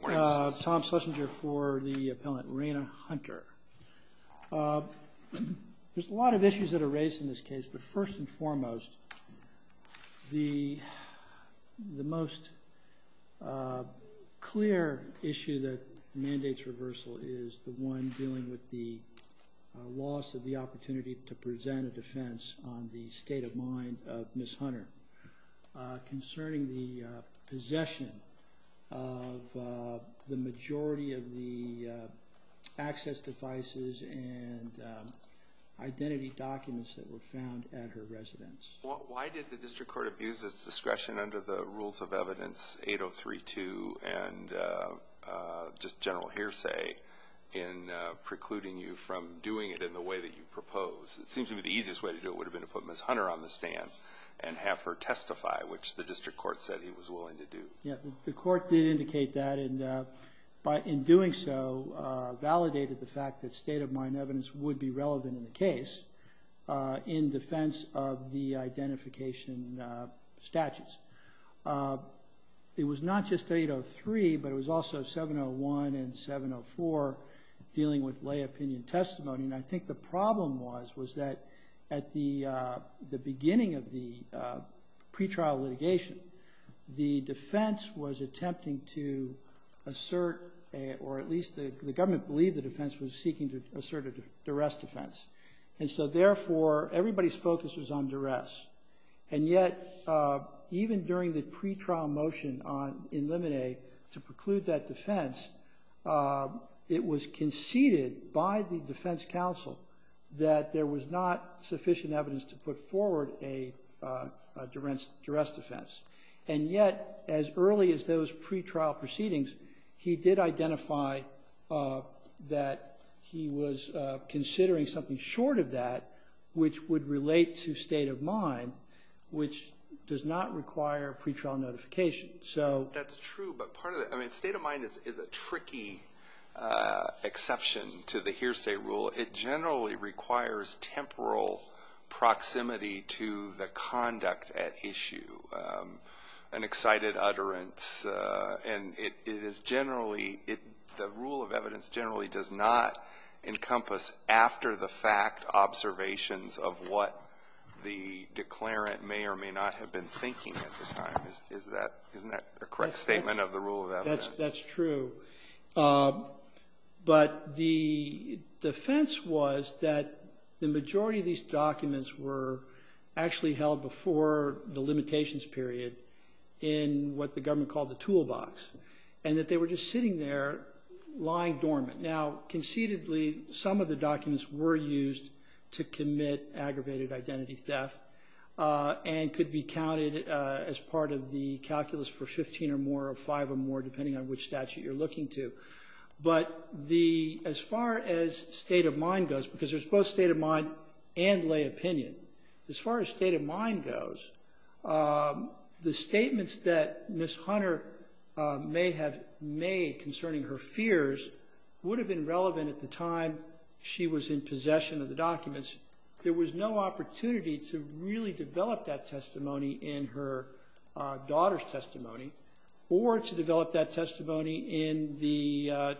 There's a lot of issues that are raised in this case, but first and foremost, the most clear issue that mandates reversal is the one dealing with the loss of the opportunity to present a defense on the state of mind of Ms. Hunter concerning the possession of a gun. The majority of the access devices and identity documents that were found at her residence. Why did the district court abuse its discretion under the rules of evidence 8032 and just general hearsay in precluding you from doing it in the way that you proposed? It seems to me the easiest way to do it would have been to put Ms. Hunter on the stand and have her testify, which the district court said he was willing to do. The court did indicate that, and in doing so, validated the fact that state of mind evidence would be relevant in the case in defense of the identification statutes. It was not just 803, but it was also 701 and 704 dealing with lay opinion testimony. And I think the problem was, was that at the beginning of the pretrial litigation, the defense was attempting to assert, or at least the government believed the defense was seeking to assert a duress defense. And so, therefore, everybody's focus was on duress. And yet, even during the pretrial motion in Lemonade to preclude that defense, it was conceded by the defense counsel that there was not sufficient evidence to put forward a duress defense. And yet, as early as those pretrial proceedings, he did identify that he was considering something short of that, which would relate to state of mind, which does not require pretrial notification. So... That's true, but part of it, I mean, state of mind is a tricky exception to the hearsay rule. It generally requires temporal proximity to the conduct at issue, an excited utterance. And it is generally, the rule of evidence generally does not encompass after-the-fact observations of what the declarant may or may not have been thinking at the time. Isn't that a correct statement of the rule of evidence? That's true. But the defense was that the majority of these documents were actually held before the limitations period in what the government called the toolbox. And that they were just sitting there, lying dormant. Now, concededly, some of the documents were used to commit aggravated identity theft and could be counted as part of the calculus for 15 or more or five or more, depending on which statute you're looking to. But the as far as state of mind goes, because there's both state of mind and lay opinion, as far as state of mind goes, the statements that Ms. Hunter may have made concerning her fears would have been relevant at the time she was in possession of the documents. There was no opportunity to really develop that testimony in her daughter's testimony or to develop that testimony in the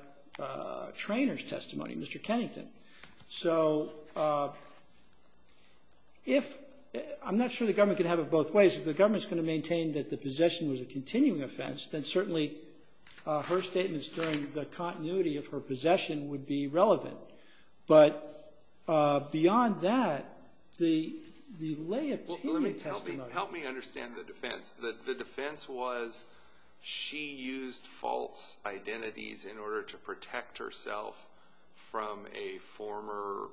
trainer's testimony, Mr. Kennington. So if, I'm not sure the government could have it both ways. If the government's going to maintain that the possession was a continuing offense, then certainly her statements during the continuity of her possession would be relevant. But beyond that, the lay opinion testimony. Help me understand the defense. The defense was she used false identities in order to protect herself from a former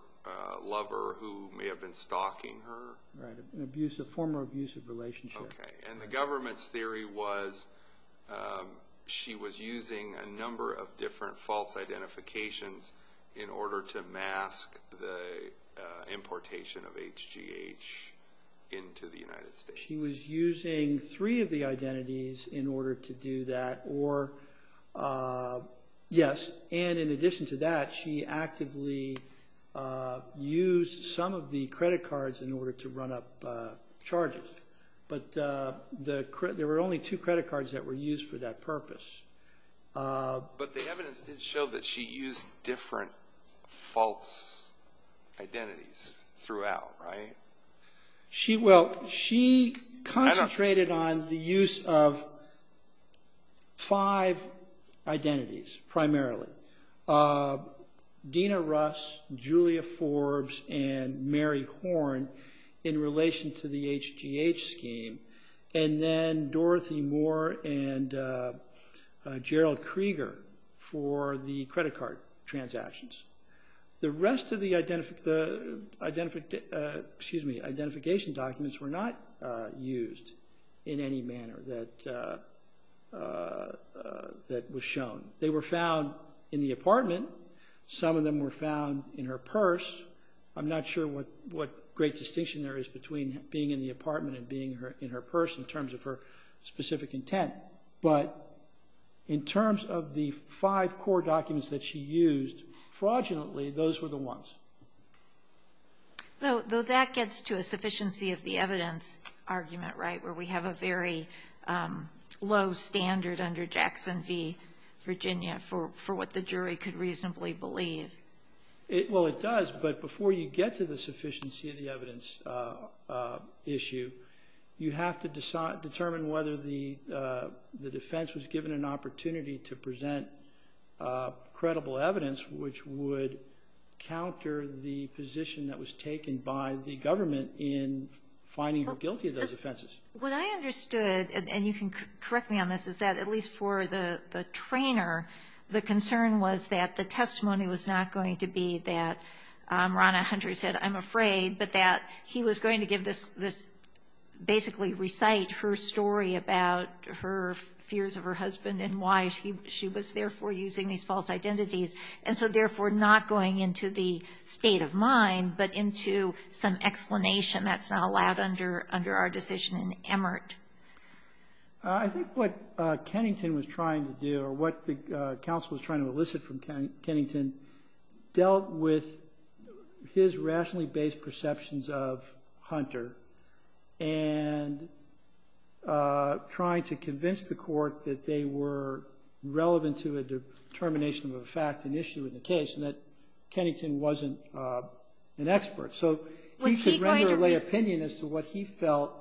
lover who may have been stalking her? Right. An abusive, former abusive relationship. Okay. And the government's theory was she was using a number of different false identifications in order to mask the importation of HGH into the United States. She was using three of the identities in order to do that or, yes. And in addition to that, she actively used some of the credit cards in order to run up charges. But there were only two credit cards that were used for that purpose. But the evidence did show that she used different false identities throughout, right? Well, she concentrated on the use of five identities primarily. Dina Russ, Julia Forbes, and Mary Horn in relation to the HGH scheme. And then Dorothy Moore and Gerald Krieger for the credit card transactions. The rest of the identification documents were not used in any manner that was shown. They were found in the apartment. Some of them were found in her purse. I'm not sure what great distinction there is between being in the apartment and being in her purse in terms of her specific intent. But in terms of the five core documents that she used, fraudulently, those were the ones. Though that gets to a sufficiency of the evidence argument, right, where we have a very low standard under Jackson v. Virginia for what the jury could reasonably believe. Well, it does. But before you get to the sufficiency of the evidence issue, you have to determine whether the defense was given an opportunity to present credible evidence, which would counter the position that was taken by the government in finding her guilty of those offenses. What I understood, and you can correct me on this, is that at least for the trainer, the concern was that the testimony was not going to be that Ronna Hunter said I'm afraid, but that he was going to give this basically recite her story about her fears of her husband and why she was therefore using these false identities, and so therefore not going into the state of mind, but into some explanation that's not allowed under our decision in Emmert. I think what Kennington was trying to do or what the counsel was trying to elicit from Kennington dealt with his rationally based perceptions of Hunter and trying to convince the court that they were relevant to a determination of a fact, an issue in the case, and that Kennington wasn't an expert. So he could render a lay opinion as to what he felt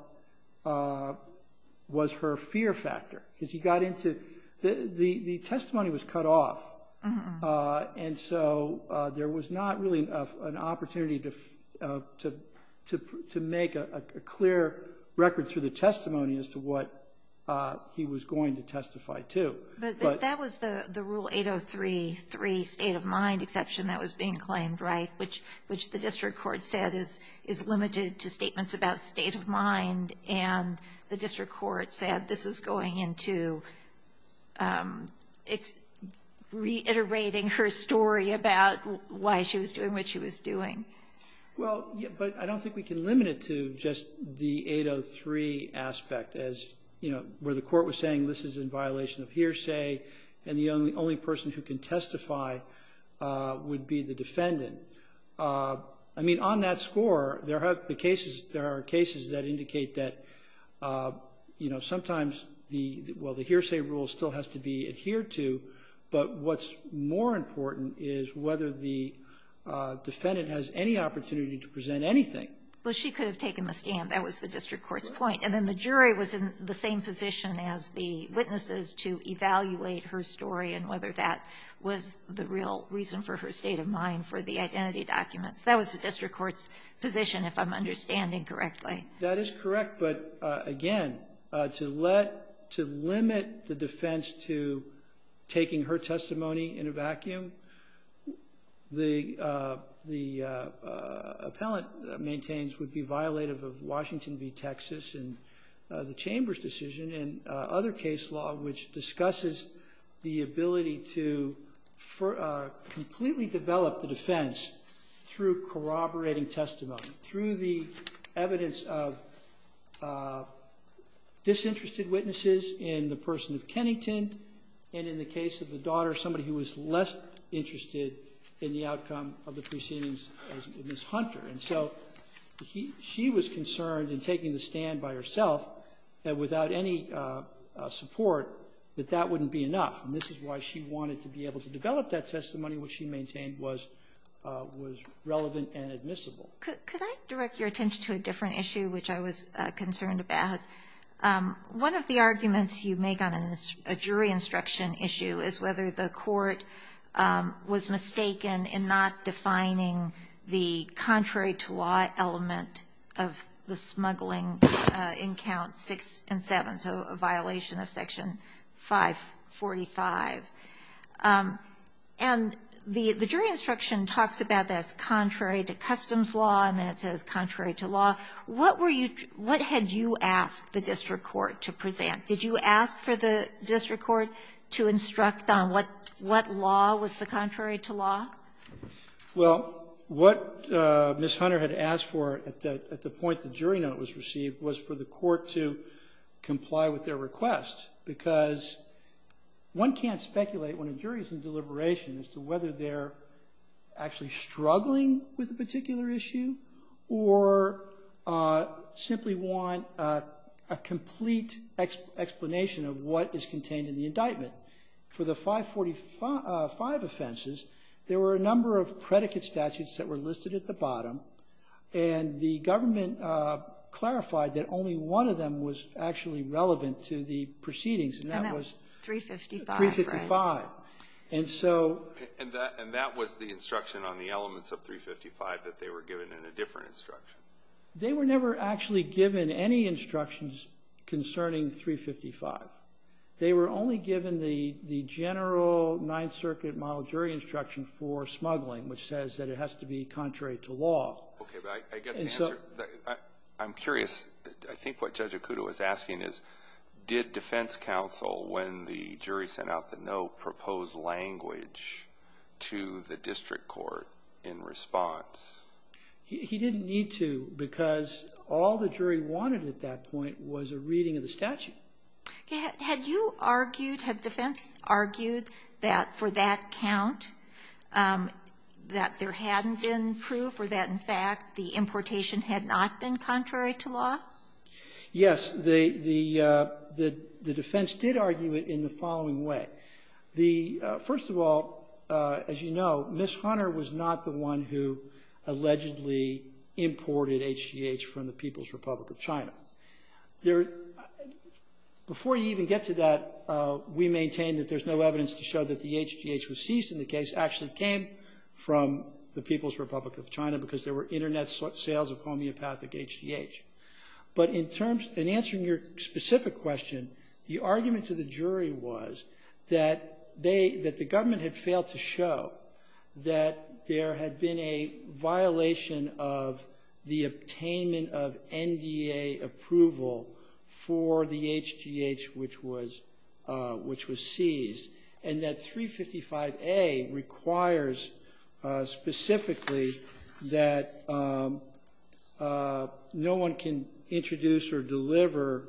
was her fear factor, because he got into the testimony was cut off, and so there was not really an opportunity to make a clear record through the testimony as to what he was going to testify to. But that was the Rule 803.3 state of mind exception that was being claimed, right, which the district court said is limited to statements about state of mind, and the district court said this is going into reiterating her story about why she was doing what she was doing. Well, but I don't think we can limit it to just the 803 aspect as, you know, where the court was saying this is in violation of hearsay and the only person who can testify would be the defendant. I mean, on that score, there are cases that indicate that, you know, sometimes the hearsay rule still has to be adhered to, but what's more important is whether the defendant has any opportunity to present anything. Well, she could have taken the scam. That was the district court's point. And then the jury was in the same position as the witnesses to evaluate her story and whether that was the real reason for her state of mind for the identity documents. That was the district court's position, if I'm understanding correctly. That is correct. But, again, to let to limit the defense to taking her testimony in a vacuum, the appellant maintains would be violative of Washington v. Texas and the chamber's decision and other case law which discusses the ability to completely develop the defense through corroborating testimony, through the evidence of disinterested witnesses in the person of Kennington and in the case of the daughter, somebody who was less interested in the outcome of the proceedings as Ms. Hunter. And so she was concerned in taking the stand by herself that without any support that that wouldn't be enough. And this is why she wanted to be able to develop that testimony, which she maintained was relevant and admissible. Could I direct your attention to a different issue which I was concerned about? One of the arguments you make on a jury instruction issue is whether the court was mistaken in not defining the contrary to law element of the smuggling in Counts 6 and 7, so a violation of Section 545. And the jury instruction talks about that as contrary to customs law and then it says contrary to law. What were you to – what had you asked the district court to present? Did you ask for the district court to instruct on what law was the contrary to law? Well, what Ms. Hunter had asked for at the point the jury note was received was for the court to comply with their request, because one can't speculate when a jury is in deliberation as to whether they're actually struggling with a particular issue or simply want a complete explanation of what is contained in the indictment. For the 545 offenses, there were a number of predicate statutes that were listed at the bottom, and the government clarified that only one of them was actually relevant to the proceedings, and that was 355. And so – And that was the instruction on the elements of 355 that they were given in a different instruction. They were never actually given any instructions concerning 355. They were only given the general Ninth Circuit model jury instruction for smuggling, which says that it has to be contrary to law. Okay. But I guess the answer – I'm curious. I think what Judge Acuda was asking is, did defense counsel, when the jury sent out the no proposed language to the district court in response? He didn't need to, because all the jury wanted at that point was a reading of the statute. Okay. Had you argued, had defense argued that for that count, that there hadn't been proof or that, in fact, the importation had not been contrary to law? Yes. The defense did argue it in the following way. First of all, as you know, Ms. Hunter was not the one who allegedly imported HGH from the People's Republic of China. Before you even get to that, we maintain that there's no evidence to show that the HGH that was seized in the case actually came from the People's Republic of China because there were Internet sales of homeopathic HGH. But in terms – in answering your specific question, the argument to the jury was that they – that the government had failed to show that there had been a violation of the attainment of NDA approval for the HGH which was seized, and that 355A requires specifically that no one can introduce or deliver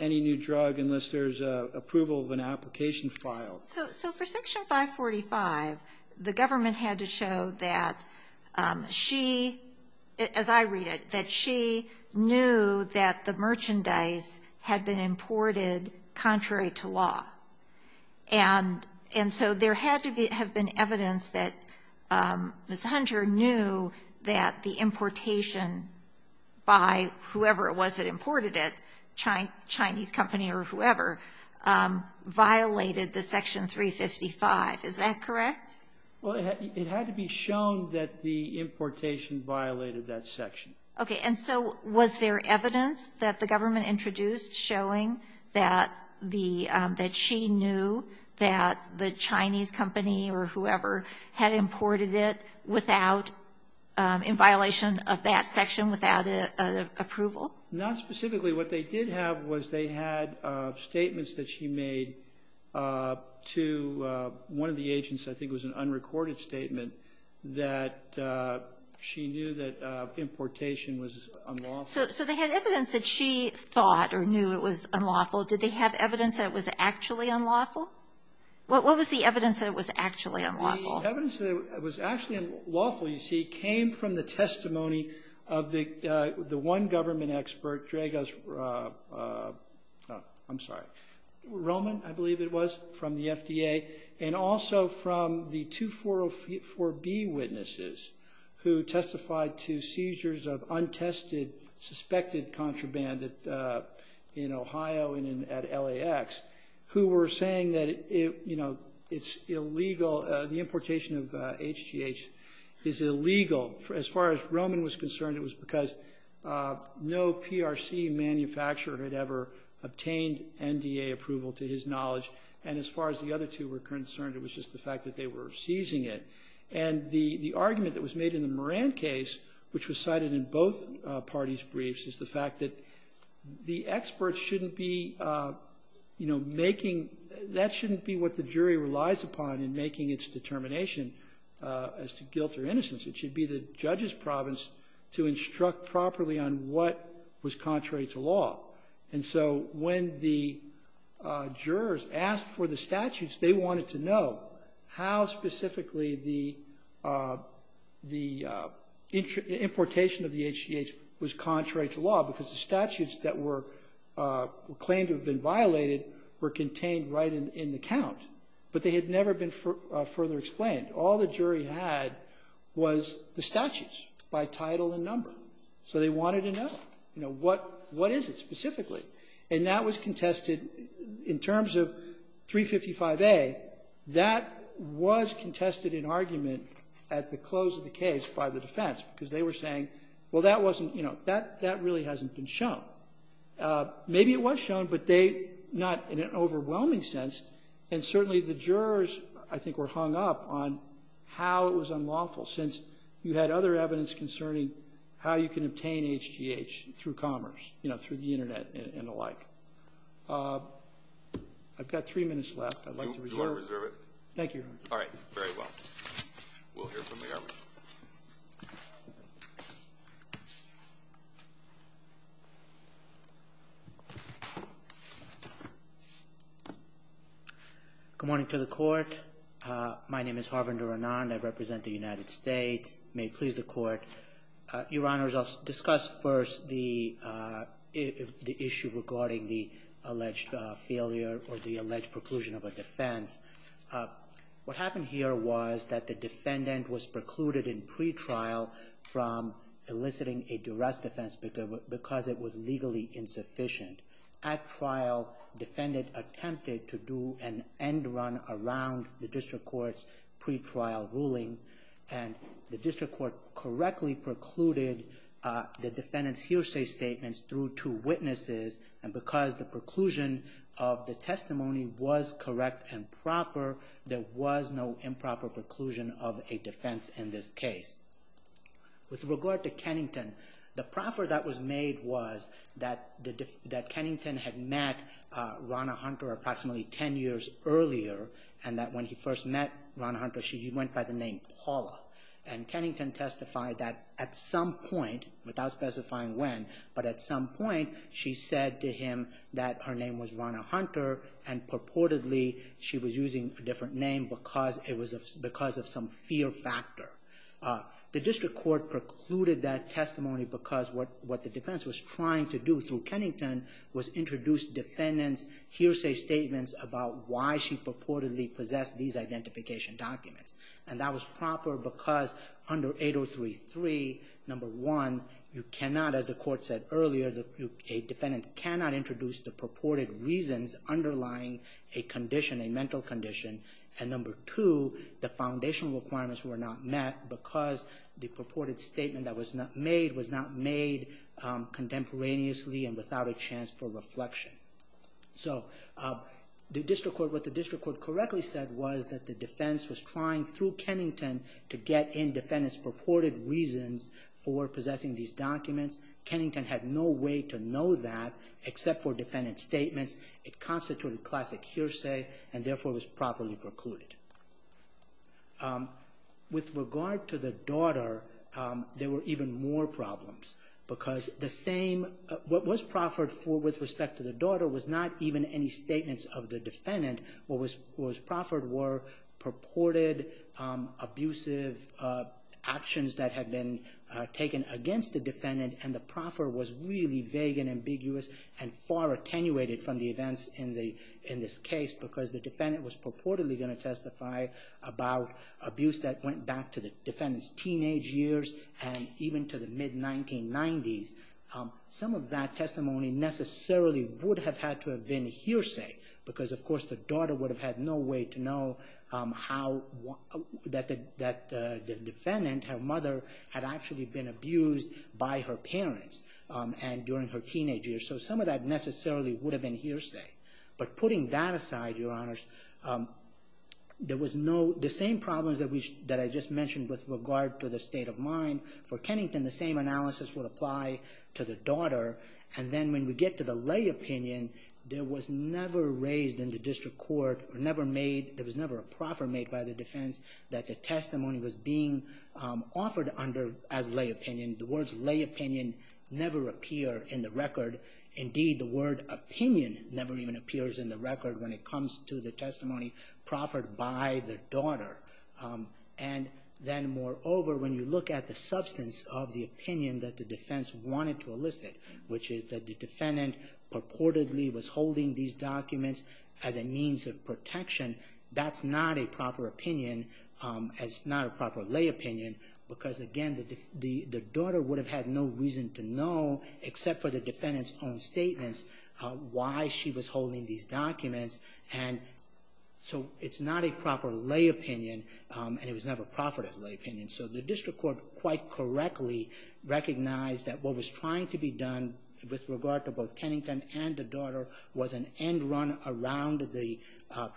any new drug unless there's approval of an application file. So for Section 545, the government had to show that she – as I read it, that she knew that the merchandise had been imported contrary to law. And so there had to have been evidence that Ms. Hunter knew that the importation by whoever it was that imported it, Chinese company or whoever, violated the Section 355. Is that correct? Well, it had to be shown that the importation violated that section. Okay, and so was there evidence that the government introduced showing that the – that she knew that the Chinese company or whoever had imported it without – in violation of that section without approval? Not specifically. What they did have was they had statements that she made to one of the agents. I think it was an unrecorded statement that she knew that importation was unlawful. So they had evidence that she thought or knew it was unlawful. Did they have evidence that it was actually unlawful? What was the evidence that it was actually unlawful? The evidence that it was actually unlawful, you see, came from the testimony of the one government expert, Dragos – I'm sorry, Roman, I believe it was, from the FDA, and also from the 244B witnesses who testified to seizures of untested, suspected contraband in Ohio and at LAX, who were saying that it's illegal – the importation of HGH is illegal. As far as Roman was concerned, it was because no PRC manufacturer had ever obtained NDA approval to his knowledge, and as far as the other two were concerned, it was just the fact that they were seizing it. And the argument that was made in the Moran case, which was cited in both parties' briefs, is the fact that the experts shouldn't be, you know, making – that shouldn't be what the jury relies upon in making its determination as to guilt or innocence. It should be the judge's province to instruct properly on what was contrary to law. And so when the jurors asked for the statutes, they wanted to know how specifically the importation of the HGH was contrary to law, because the statutes that were claimed to have been violated were contained right in the count, but they had never been further explained. All the jury had was the statutes by title and number. So they wanted to know, you know, what is it specifically. And that was contested – in terms of 355A, that was contested in argument at the close of the case by the defense, because they were saying, well, that wasn't – you know, that really hasn't been shown. Maybe it was shown, but they – not in an overwhelming sense. And certainly the jurors, I think, were hung up on how it was unlawful, since you had other evidence concerning how you can obtain HGH through commerce, you know, through the Internet and the like. I've got three minutes left. I'd like to reserve it. You want to reserve it? Thank you, Your Honor. All right. Very well. We'll hear from the argument. Good morning to the Court. My name is Harvinder Anand. I represent the United States. May it please the Court. Your Honors, I'll discuss first the issue regarding the alleged failure or the alleged preclusion of a defense. What happened here was that the defendant was precluded in pretrial from eliciting a duress defense because it was legally insufficient. At trial, defendant attempted to do an end run around the district court's pretrial ruling, and the district court correctly precluded the defendant's hearsay statements through two witnesses, and because the preclusion of the testimony was correct and proper, there was no improper preclusion of a defense in this case. With regard to Kennington, the proffer that was made was that Kennington had met Ronna Hunter approximately 10 years earlier, and that when he first met Ronna Hunter, she went by the name Paula. And Kennington testified that at some point, without specifying when, but at some point she said to him that her name was Ronna Hunter, and purportedly she was using a different name because of some fear factor. The district court precluded that testimony because what the defense was trying to do through Kennington was introduce defendant's hearsay statements about why she purportedly possessed these identification documents. And that was proper because under 8033, number one, you cannot, as the court said earlier, a defendant cannot introduce the purported reasons underlying a condition, a mental condition. And number two, the foundational requirements were not met because the purported statement that was made was not made contemporaneously and without a chance for reflection. So what the district court correctly said was that the defense was trying through Kennington to get in defendant's purported reasons for possessing these documents. Kennington had no way to know that except for defendant's statements. It constituted classic hearsay and therefore was properly precluded. With regard to the daughter, there were even more problems because the same, what was proffered with respect to the daughter was not even any statements of the defendant. What was proffered were purported abusive actions that had been taken against the defendant and the proffer was really vague and ambiguous and far attenuated from the events in this case because the defendant was purportedly going to testify about abuse that went back to the defendant's teenage years and even to the mid-1990s. Some of that testimony necessarily would have had to have been hearsay because, of course, the daughter would have had no way to know that the defendant, her mother, had actually been abused by her parents during her teenage years. So some of that necessarily would have been hearsay. But putting that aside, Your Honors, the same problems that I just mentioned with regard to the state of mind for Kennington, the same analysis would apply to the daughter and then when we get to the lay opinion, there was never raised in the district court, there was never a proffer made by the defense that the testimony was being offered under as lay opinion. The words lay opinion never appear in the record. Indeed, the word opinion never even appears in the record when it comes to the testimony proffered by the daughter. And then, moreover, when you look at the substance of the opinion that the defense wanted to elicit, which is that the defendant purportedly was holding these documents as a means of protection, that's not a proper opinion. It's not a proper lay opinion because, again, the daughter would have had no reason to know, except for the defendant's own statements, why she was holding these documents. So it's not a proper lay opinion and it was never proffered as lay opinion. So the district court quite correctly recognized that what was trying to be done with regard to both Kennington and the daughter was an end run around the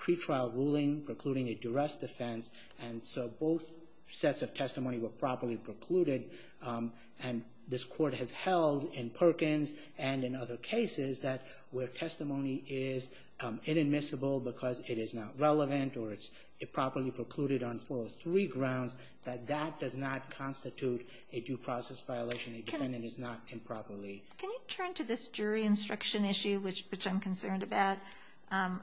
pretrial ruling precluding a duress defense, and so both sets of testimony were properly precluded. And this court has held in Perkins and in other cases that where testimony is inadmissible because it is not relevant or it's improperly precluded on 403 grounds, that that does not constitute a due process violation. A defendant is not improperly. Can you turn to this jury instruction issue, which I'm concerned about?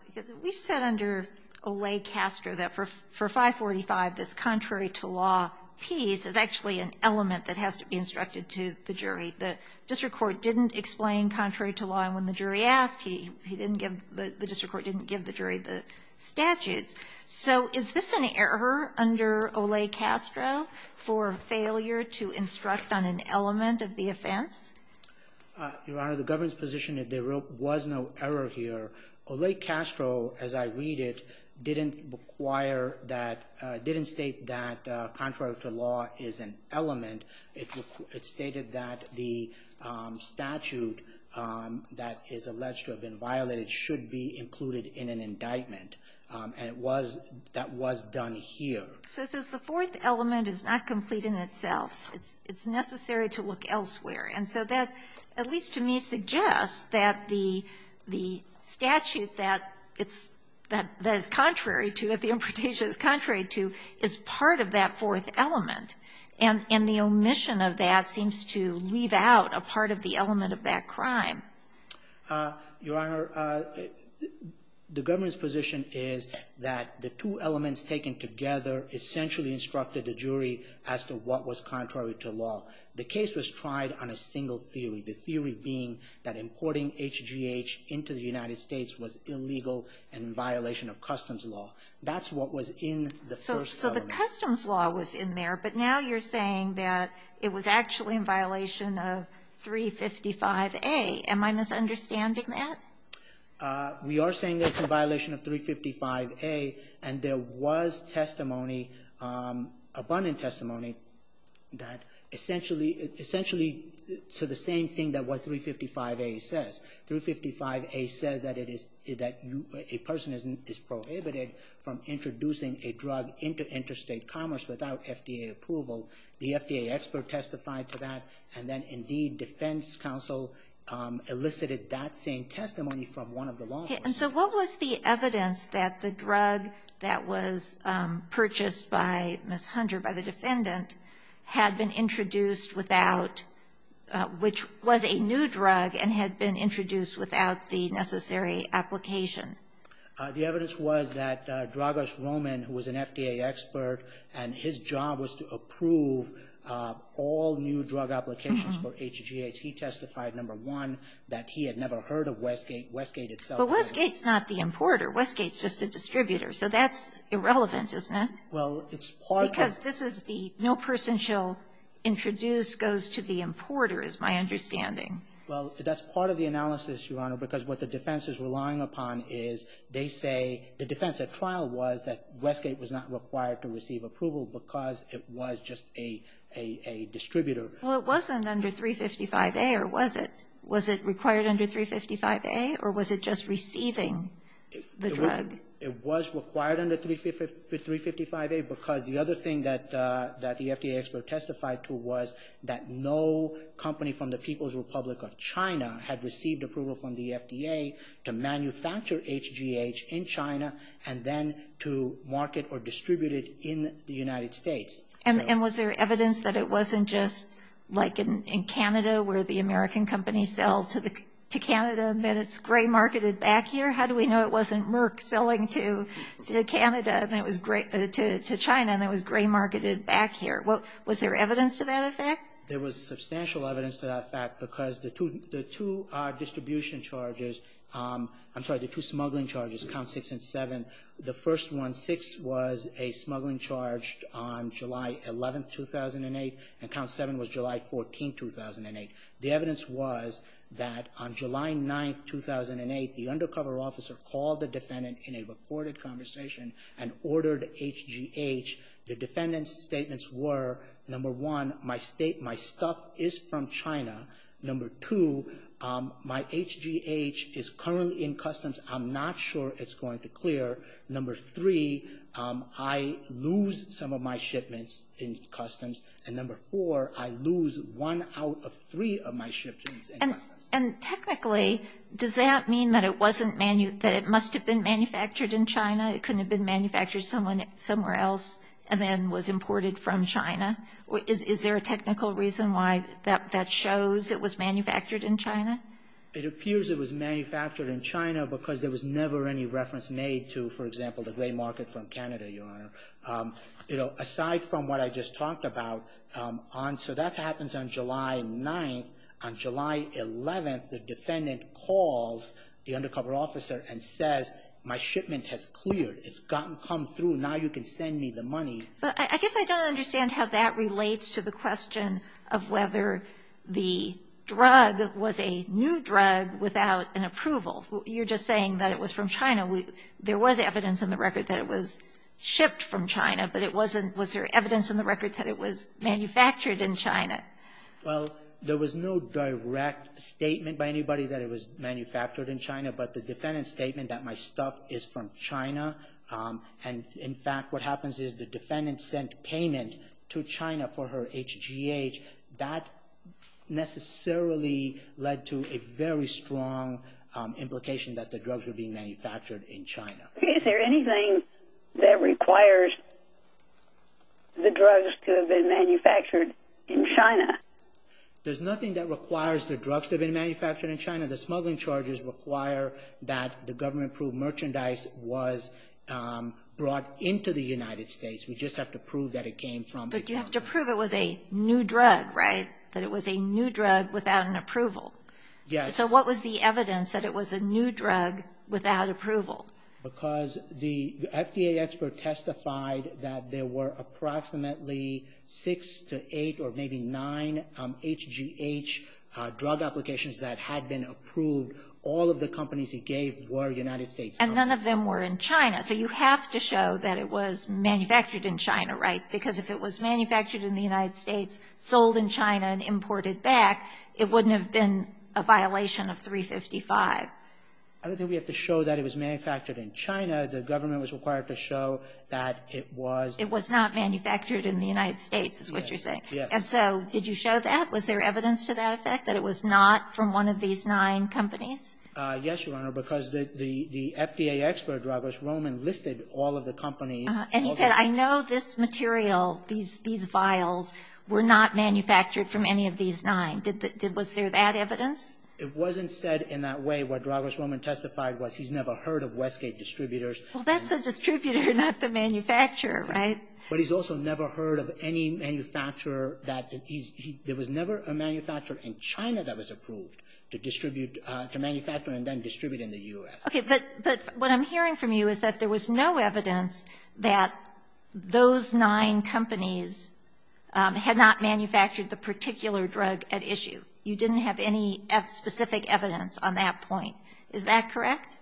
Because we've said under Olay-Castro that for 545, this contrary to law piece is actually an element that has to be instructed to the jury. The district court didn't explain contrary to law, and when the jury asked, the district court didn't give the jury the statutes. So is this an error under Olay-Castro for failure to instruct on an element of the offense? Your Honor, the government's position is there was no error here. Olay-Castro, as I read it, didn't require that, didn't state that contrary to law is an element. It stated that the statute that is alleged to have been violated should be included in an indictment. And it was, that was done here. So it says the fourth element is not complete in itself. It's necessary to look elsewhere. And so that, at least to me, suggests that the statute that it's, that is contrary to, that the imputation is contrary to, is part of that fourth element. And the omission of that seems to leave out a part of the element of that crime. Your Honor, the government's position is that the two elements taken together essentially instructed the jury as to what was contrary to law. The case was tried on a single theory, the theory being that importing HGH into the United States was illegal and in violation of customs law. That's what was in the first element. So the customs law was in there. But now you're saying that it was actually in violation of 355A. Am I misunderstanding that? We are saying that it's in violation of 355A. And there was testimony, abundant testimony, that essentially to the same thing that what 355A says. 355A says that it is, that a person is prohibited from introducing a drug into interstate commerce without FDA approval. The FDA expert testified to that. And then, indeed, defense counsel elicited that same testimony from one of the law enforcement. And so what was the evidence that the drug that was purchased by Ms. Hunter, by the defendant, had been introduced without, which was a new drug and had been introduced without the necessary application? The evidence was that Dragos Roman, who was an FDA expert, and his job was to approve all new drug applications for HGH. He testified, number one, that he had never heard of Westgate. But Westgate's not the importer. Westgate's just a distributor. So that's irrelevant, isn't it? Well, it's part of the ---- Because this is the no person shall introduce goes to the importer is my understanding. Well, that's part of the analysis, Your Honor, because what the defense is relying upon is they say the defense at trial was that Westgate was not required to receive approval because it was just a distributor. Well, it wasn't under 355A, or was it? Was it required under 355A, or was it just receiving the drug? It was required under 355A because the other thing that the FDA expert testified to was that no company from the People's Republic of China had received approval from the FDA to manufacture HGH in China and then to market or distribute it in the United States. And was there evidence that it wasn't just like in Canada where the American companies sell to Canada and then it's gray marketed back here? How do we know it wasn't Merck selling to Canada and it was gray to China and it was gray marketed back here? Was there evidence to that effect? There was substantial evidence to that effect because the two distribution charges I'm sorry, the two smuggling charges, Count 6 and 7, the first one, 6, was a smuggling charge on July 11, 2008, and Count 7 was July 14, 2008. The evidence was that on July 9, 2008, the undercover officer called the defendant in a recorded conversation and ordered HGH. The defendant's statements were, number one, my stuff is from China. Number two, my HGH is currently in customs. I'm not sure it's going to clear. Number three, I lose some of my shipments in customs. And number four, I lose one out of three of my shipments in customs. And technically, does that mean that it must have been manufactured in China? It couldn't have been manufactured somewhere else and then was imported from China? Is there a technical reason why that shows it was manufactured in China? It appears it was manufactured in China because there was never any reference made to, for example, the gray market from Canada, Your Honor. Aside from what I just talked about, so that happens on July 9. On July 11, the defendant calls the undercover officer and says, my shipment has cleared. It's come through. Now you can send me the money. But I guess I don't understand how that relates to the question of whether the drug was a new drug without an approval. You're just saying that it was from China. There was evidence in the record that it was shipped from China, but was there evidence in the record that it was manufactured in China? Well, there was no direct statement by anybody that it was manufactured in China, but the defendant's statement that my stuff is from China, and in fact what happens is the defendant sent payment to China for her HGH, that necessarily led to a very strong implication that the drugs were being manufactured in China. Is there anything that requires the drugs to have been manufactured in China? There's nothing that requires the drugs to have been manufactured in China. The smuggling charges require that the government-approved merchandise was brought into the United States. We just have to prove that it came from the United States. But you have to prove it was a new drug, right? That it was a new drug without an approval. Yes. So what was the evidence that it was a new drug without approval? Because the FDA expert testified that there were approximately six to eight or maybe nine HGH drug applications that had been approved. All of the companies he gave were United States companies. And none of them were in China. So you have to show that it was manufactured in China, right? Because if it was manufactured in the United States, sold in China, and imported back, it wouldn't have been a violation of 355. I don't think we have to show that it was manufactured in China. The government was required to show that it was. It was not manufactured in the United States is what you're saying. Yes. And so did you show that? Was there evidence to that effect, that it was not from one of these nine companies? Yes, Your Honor, because the FDA expert drug was Roman, listed all of the companies. And he said, I know this material, these vials, were not manufactured from any of these nine. Was there that evidence? It wasn't said in that way. What Douglas Roman testified was he's never heard of Westgate distributors. Well, that's a distributor, not the manufacturer, right? But he's also never heard of any manufacturer that he's – there was never a manufacturer in China that was approved to distribute – to manufacture and then distribute in the U.S. Okay. But what I'm hearing from you is that there was no evidence that those nine companies had not manufactured the particular drug at issue. You didn't have any specific evidence on that point. Is that correct?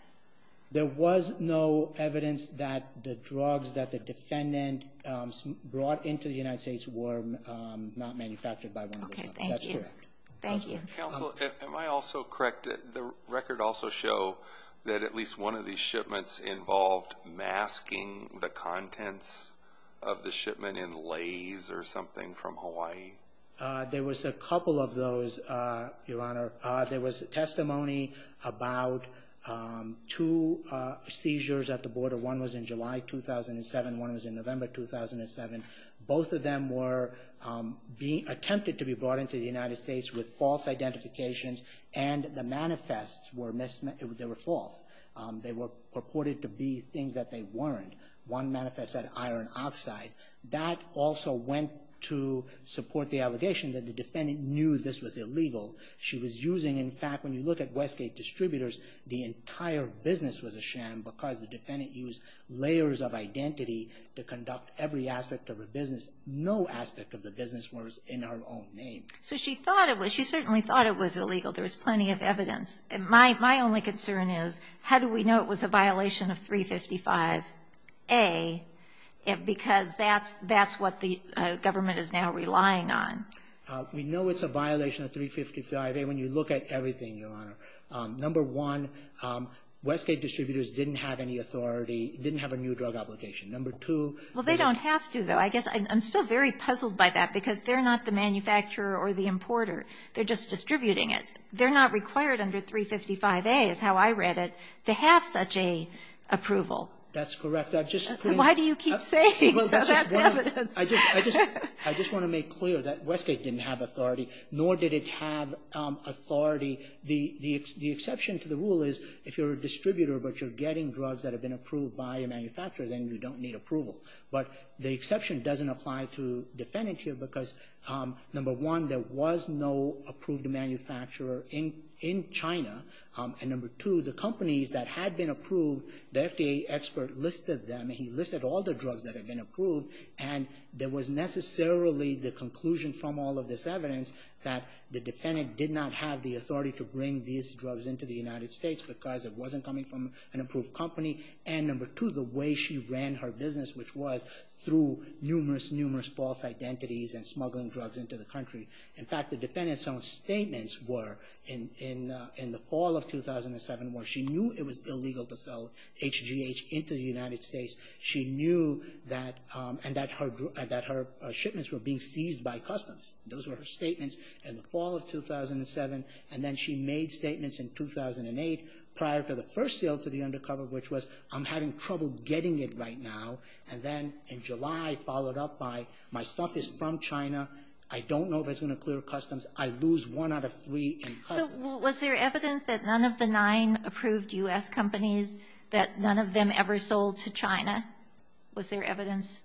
There was no evidence that the drugs that the defendant brought into the United States were not manufactured by one of the companies. Okay. Thank you. That's correct. Thank you. Counsel, am I also correct? Did the record also show that at least one of these shipments involved masking the contents of the shipment in lays or something from Hawaii? There was a couple of those, Your Honor. There was testimony about two seizures at the border. One was in July 2007, one was in November 2007. Both of them were attempted to be brought into the United States with false identifications and the manifests, they were false. They were purported to be things that they weren't. One manifest said iron oxide. That also went to support the allegation that the defendant knew this was illegal. She was using – in fact, when you look at Westgate Distributors, the entire business was a sham because the defendant used layers of identity to conduct every aspect of her business. No aspect of the business was in her own name. So she thought it was – she certainly thought it was illegal. There was plenty of evidence. My only concern is how do we know it was a violation of 355A because that's what the government is now relying on? We know it's a violation of 355A when you look at everything, Your Honor. Number one, Westgate Distributors didn't have any authority, didn't have a new drug application. Number two – Well, they don't have to, though. I guess I'm still very puzzled by that because they're not the manufacturer or the importer. They're just distributing it. They're not required under 355A, is how I read it, to have such an approval. That's correct. Why do you keep saying that's evidence? I just want to make clear that Westgate didn't have authority, nor did it have authority. The exception to the rule is if you're a distributor but you're getting drugs that have been approved by a manufacturer, then you don't need approval. But the exception doesn't apply to the defendant here because, number one, there was no approved manufacturer in China, and number two, the companies that had been approved, the FDA expert listed them. He listed all the drugs that had been approved, and there was necessarily the conclusion from all of this evidence that the defendant did not have the authority to bring these drugs into the United States because it wasn't coming from an approved company, and number two, the way she ran her business, which was through numerous, numerous false identities and smuggling drugs into the country. In fact, the defendant's own statements were in the fall of 2007 where she knew it was illegal to sell HGH into the United States. She knew that her shipments were being seized by customs. Those were her statements in the fall of 2007, and then she made statements in 2008 prior to the first sale to the undercover, which was I'm having trouble getting it right now, and then in July, followed up by my stuff is from China. I don't know if it's going to clear customs. I lose one out of three in customs. So was there evidence that none of the nine approved U.S. companies, that none of them ever sold to China? Was there evidence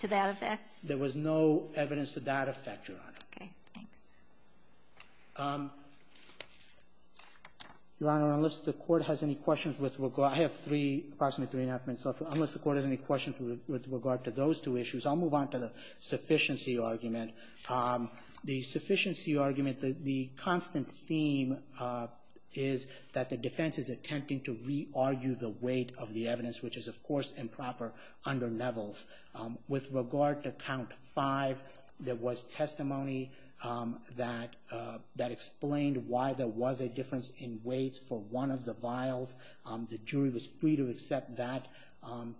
to that effect? There was no evidence to that effect, Your Honor. Okay. Thanks. Your Honor, unless the Court has any questions with regard to those two issues, I'll move on to the sufficiency argument. The sufficiency argument, the constant theme is that the defense is attempting to re-argue the weight of the evidence, which is, of course, improper under levels. With regard to Count 5, there was testimony that explained why there was a difference in weights for one of the vials. The jury was free to accept that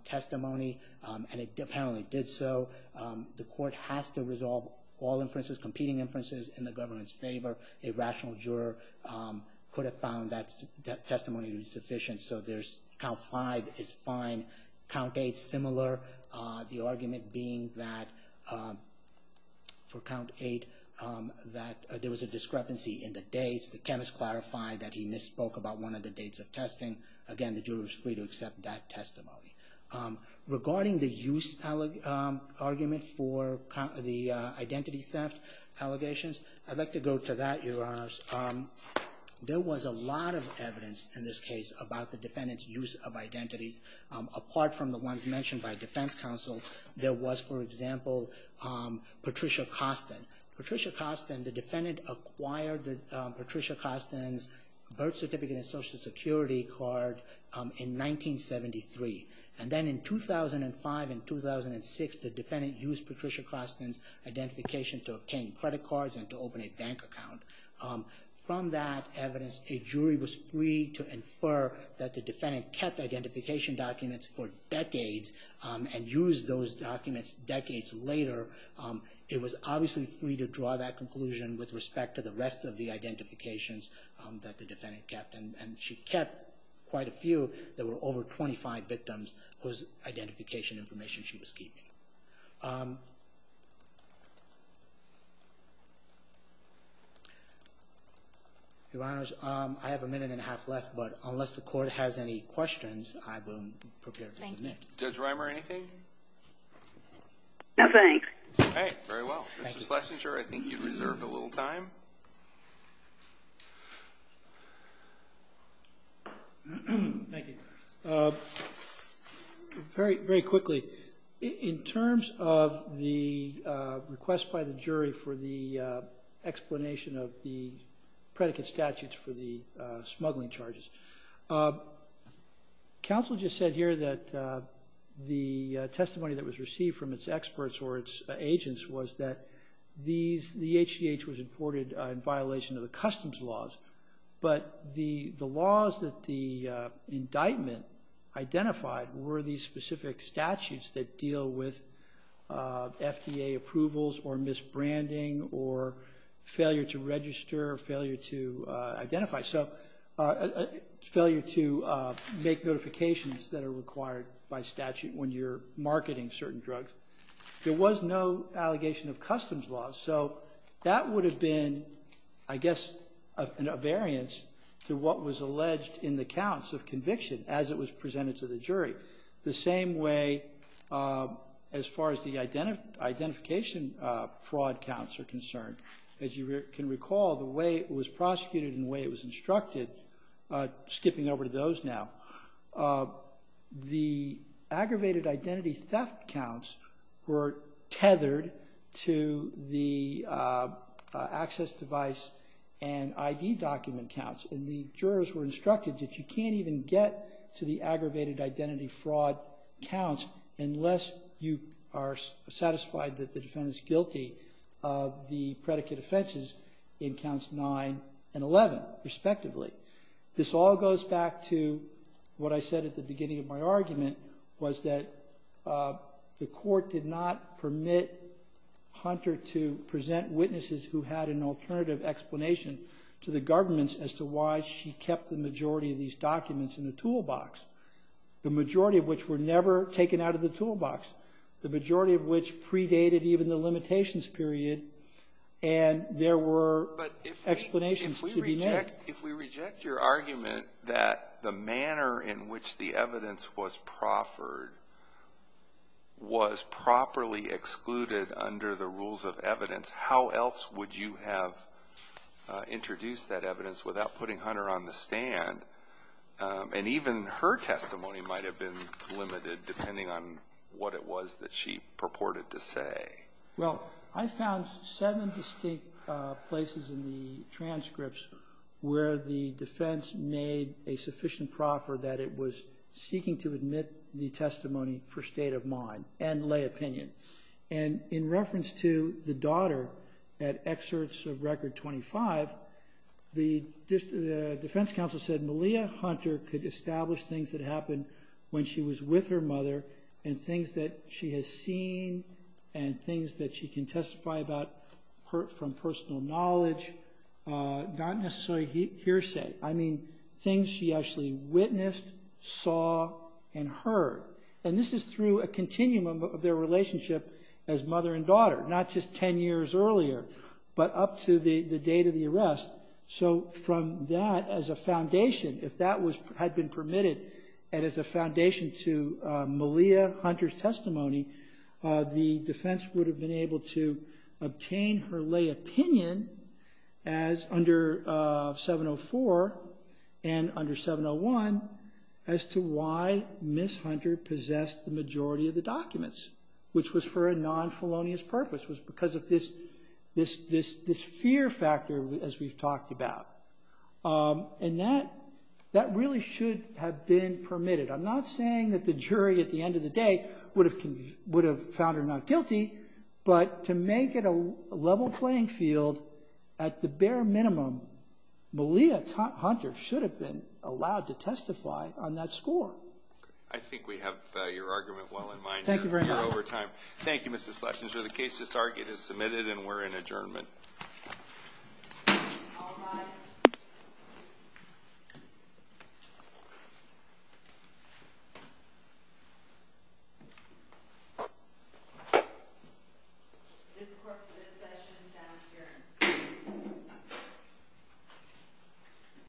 testimony, and it apparently did so. The Court has to resolve all inferences, competing inferences, in the government's favor. A rational juror could have found that testimony to be sufficient, so there's Count 5 is fine. Count 8, similar. The argument being that, for Count 8, that there was a discrepancy in the dates. The chemist clarified that he misspoke about one of the dates of testing. Again, the jury was free to accept that testimony. Regarding the use argument for the identity theft allegations, I'd like to go to that, Your Honor. There was a lot of evidence in this case about the defendant's use of identities, apart from the ones mentioned by defense counsel. There was, for example, Patricia Costin. Patricia Costin, the defendant acquired Patricia Costin's birth certificate and Social Security card in 1973. And then in 2005 and 2006, the defendant used Patricia Costin's identification to obtain credit cards and to open a bank account. From that evidence, a jury was free to infer that the defendant kept identification documents for decades and used those documents decades later. It was obviously free to draw that conclusion with respect to the rest of the identifications that the defendant kept. And she kept quite a few. There were over 25 victims whose identification information she was keeping. Your Honors, I have a minute and a half left, but unless the Court has any questions, I will prepare to submit. Judge Rimer, anything? No, thanks. Okay, very well. Mr. Schlesinger, I think you've reserved a little time. Thank you. Very quickly. In terms of the request by the jury for the explanation of the predicate statutes for the smuggling charges, counsel just said here that the testimony that was received from its experts or its agents was that the HGH was imported in violation of the customs laws, but the laws that the indictment identified were these specific statutes that deal with FDA approvals or misbranding or failure to register or failure to identify, so failure to make notifications that are required by statute when you're marketing certain drugs. There was no allegation of customs laws, so that would have been, I guess, a variance to what was alleged in the counts of conviction as it was presented to the jury. The same way, as far as the identification fraud counts are concerned, as you can recall, the way it was prosecuted and the way it was instructed, skipping over to those now, the aggravated identity theft counts were tethered to the access device and ID document counts, and the jurors were instructed that you can't even get to the aggravated identity fraud counts unless you are satisfied that the defendant is guilty of the predicate offenses in counts 9 and 11, respectively. This all goes back to what I said at the beginning of my argument, was that the court did not permit Hunter to present witnesses who had an alternative explanation to the government as to why she kept the majority of these documents in the toolbox, the majority of which were never taken out of the toolbox, the majority of which predated even the limitations period, and there were explanations to be made. If we reject your argument that the manner in which the evidence was proffered was properly excluded under the rules of evidence, how else would you have introduced that evidence without putting Hunter on the stand? And even her testimony might have been limited, depending on what it was that she purported to say. Well, I found seven distinct places in the transcripts where the defense made a sufficient proffer that it was seeking to admit the testimony for state of mind and lay opinion. And in reference to the daughter at excerpts of Record 25, the defense counsel said Malia Hunter could establish things that happened when she was with her mother and things that she has seen and things that she can testify about from personal knowledge, not necessarily hearsay, I mean things she actually witnessed, saw, and heard. And this is through a continuum of their relationship as mother and daughter, not just ten years earlier, but up to the date of the arrest. So from that as a foundation, if that had been permitted, and as a foundation to Malia Hunter's testimony, the defense would have been able to obtain her lay opinion as under 704 and under 701 as to why Ms. Hunter possessed the majority of the documents, which was for a non-felonious purpose, was because of this fear factor as we've talked about. And that really should have been permitted. I'm not saying that the jury at the end of the day would have found her not guilty, but to make it a level playing field, at the bare minimum, Malia Hunter should have been allowed to testify on that score. I think we have your argument well in mind. Thank you very much. You're over time. Thank you, Mr. Schlesinger. The case is submitted and we're in adjournment. All rise. This session is now adjourned.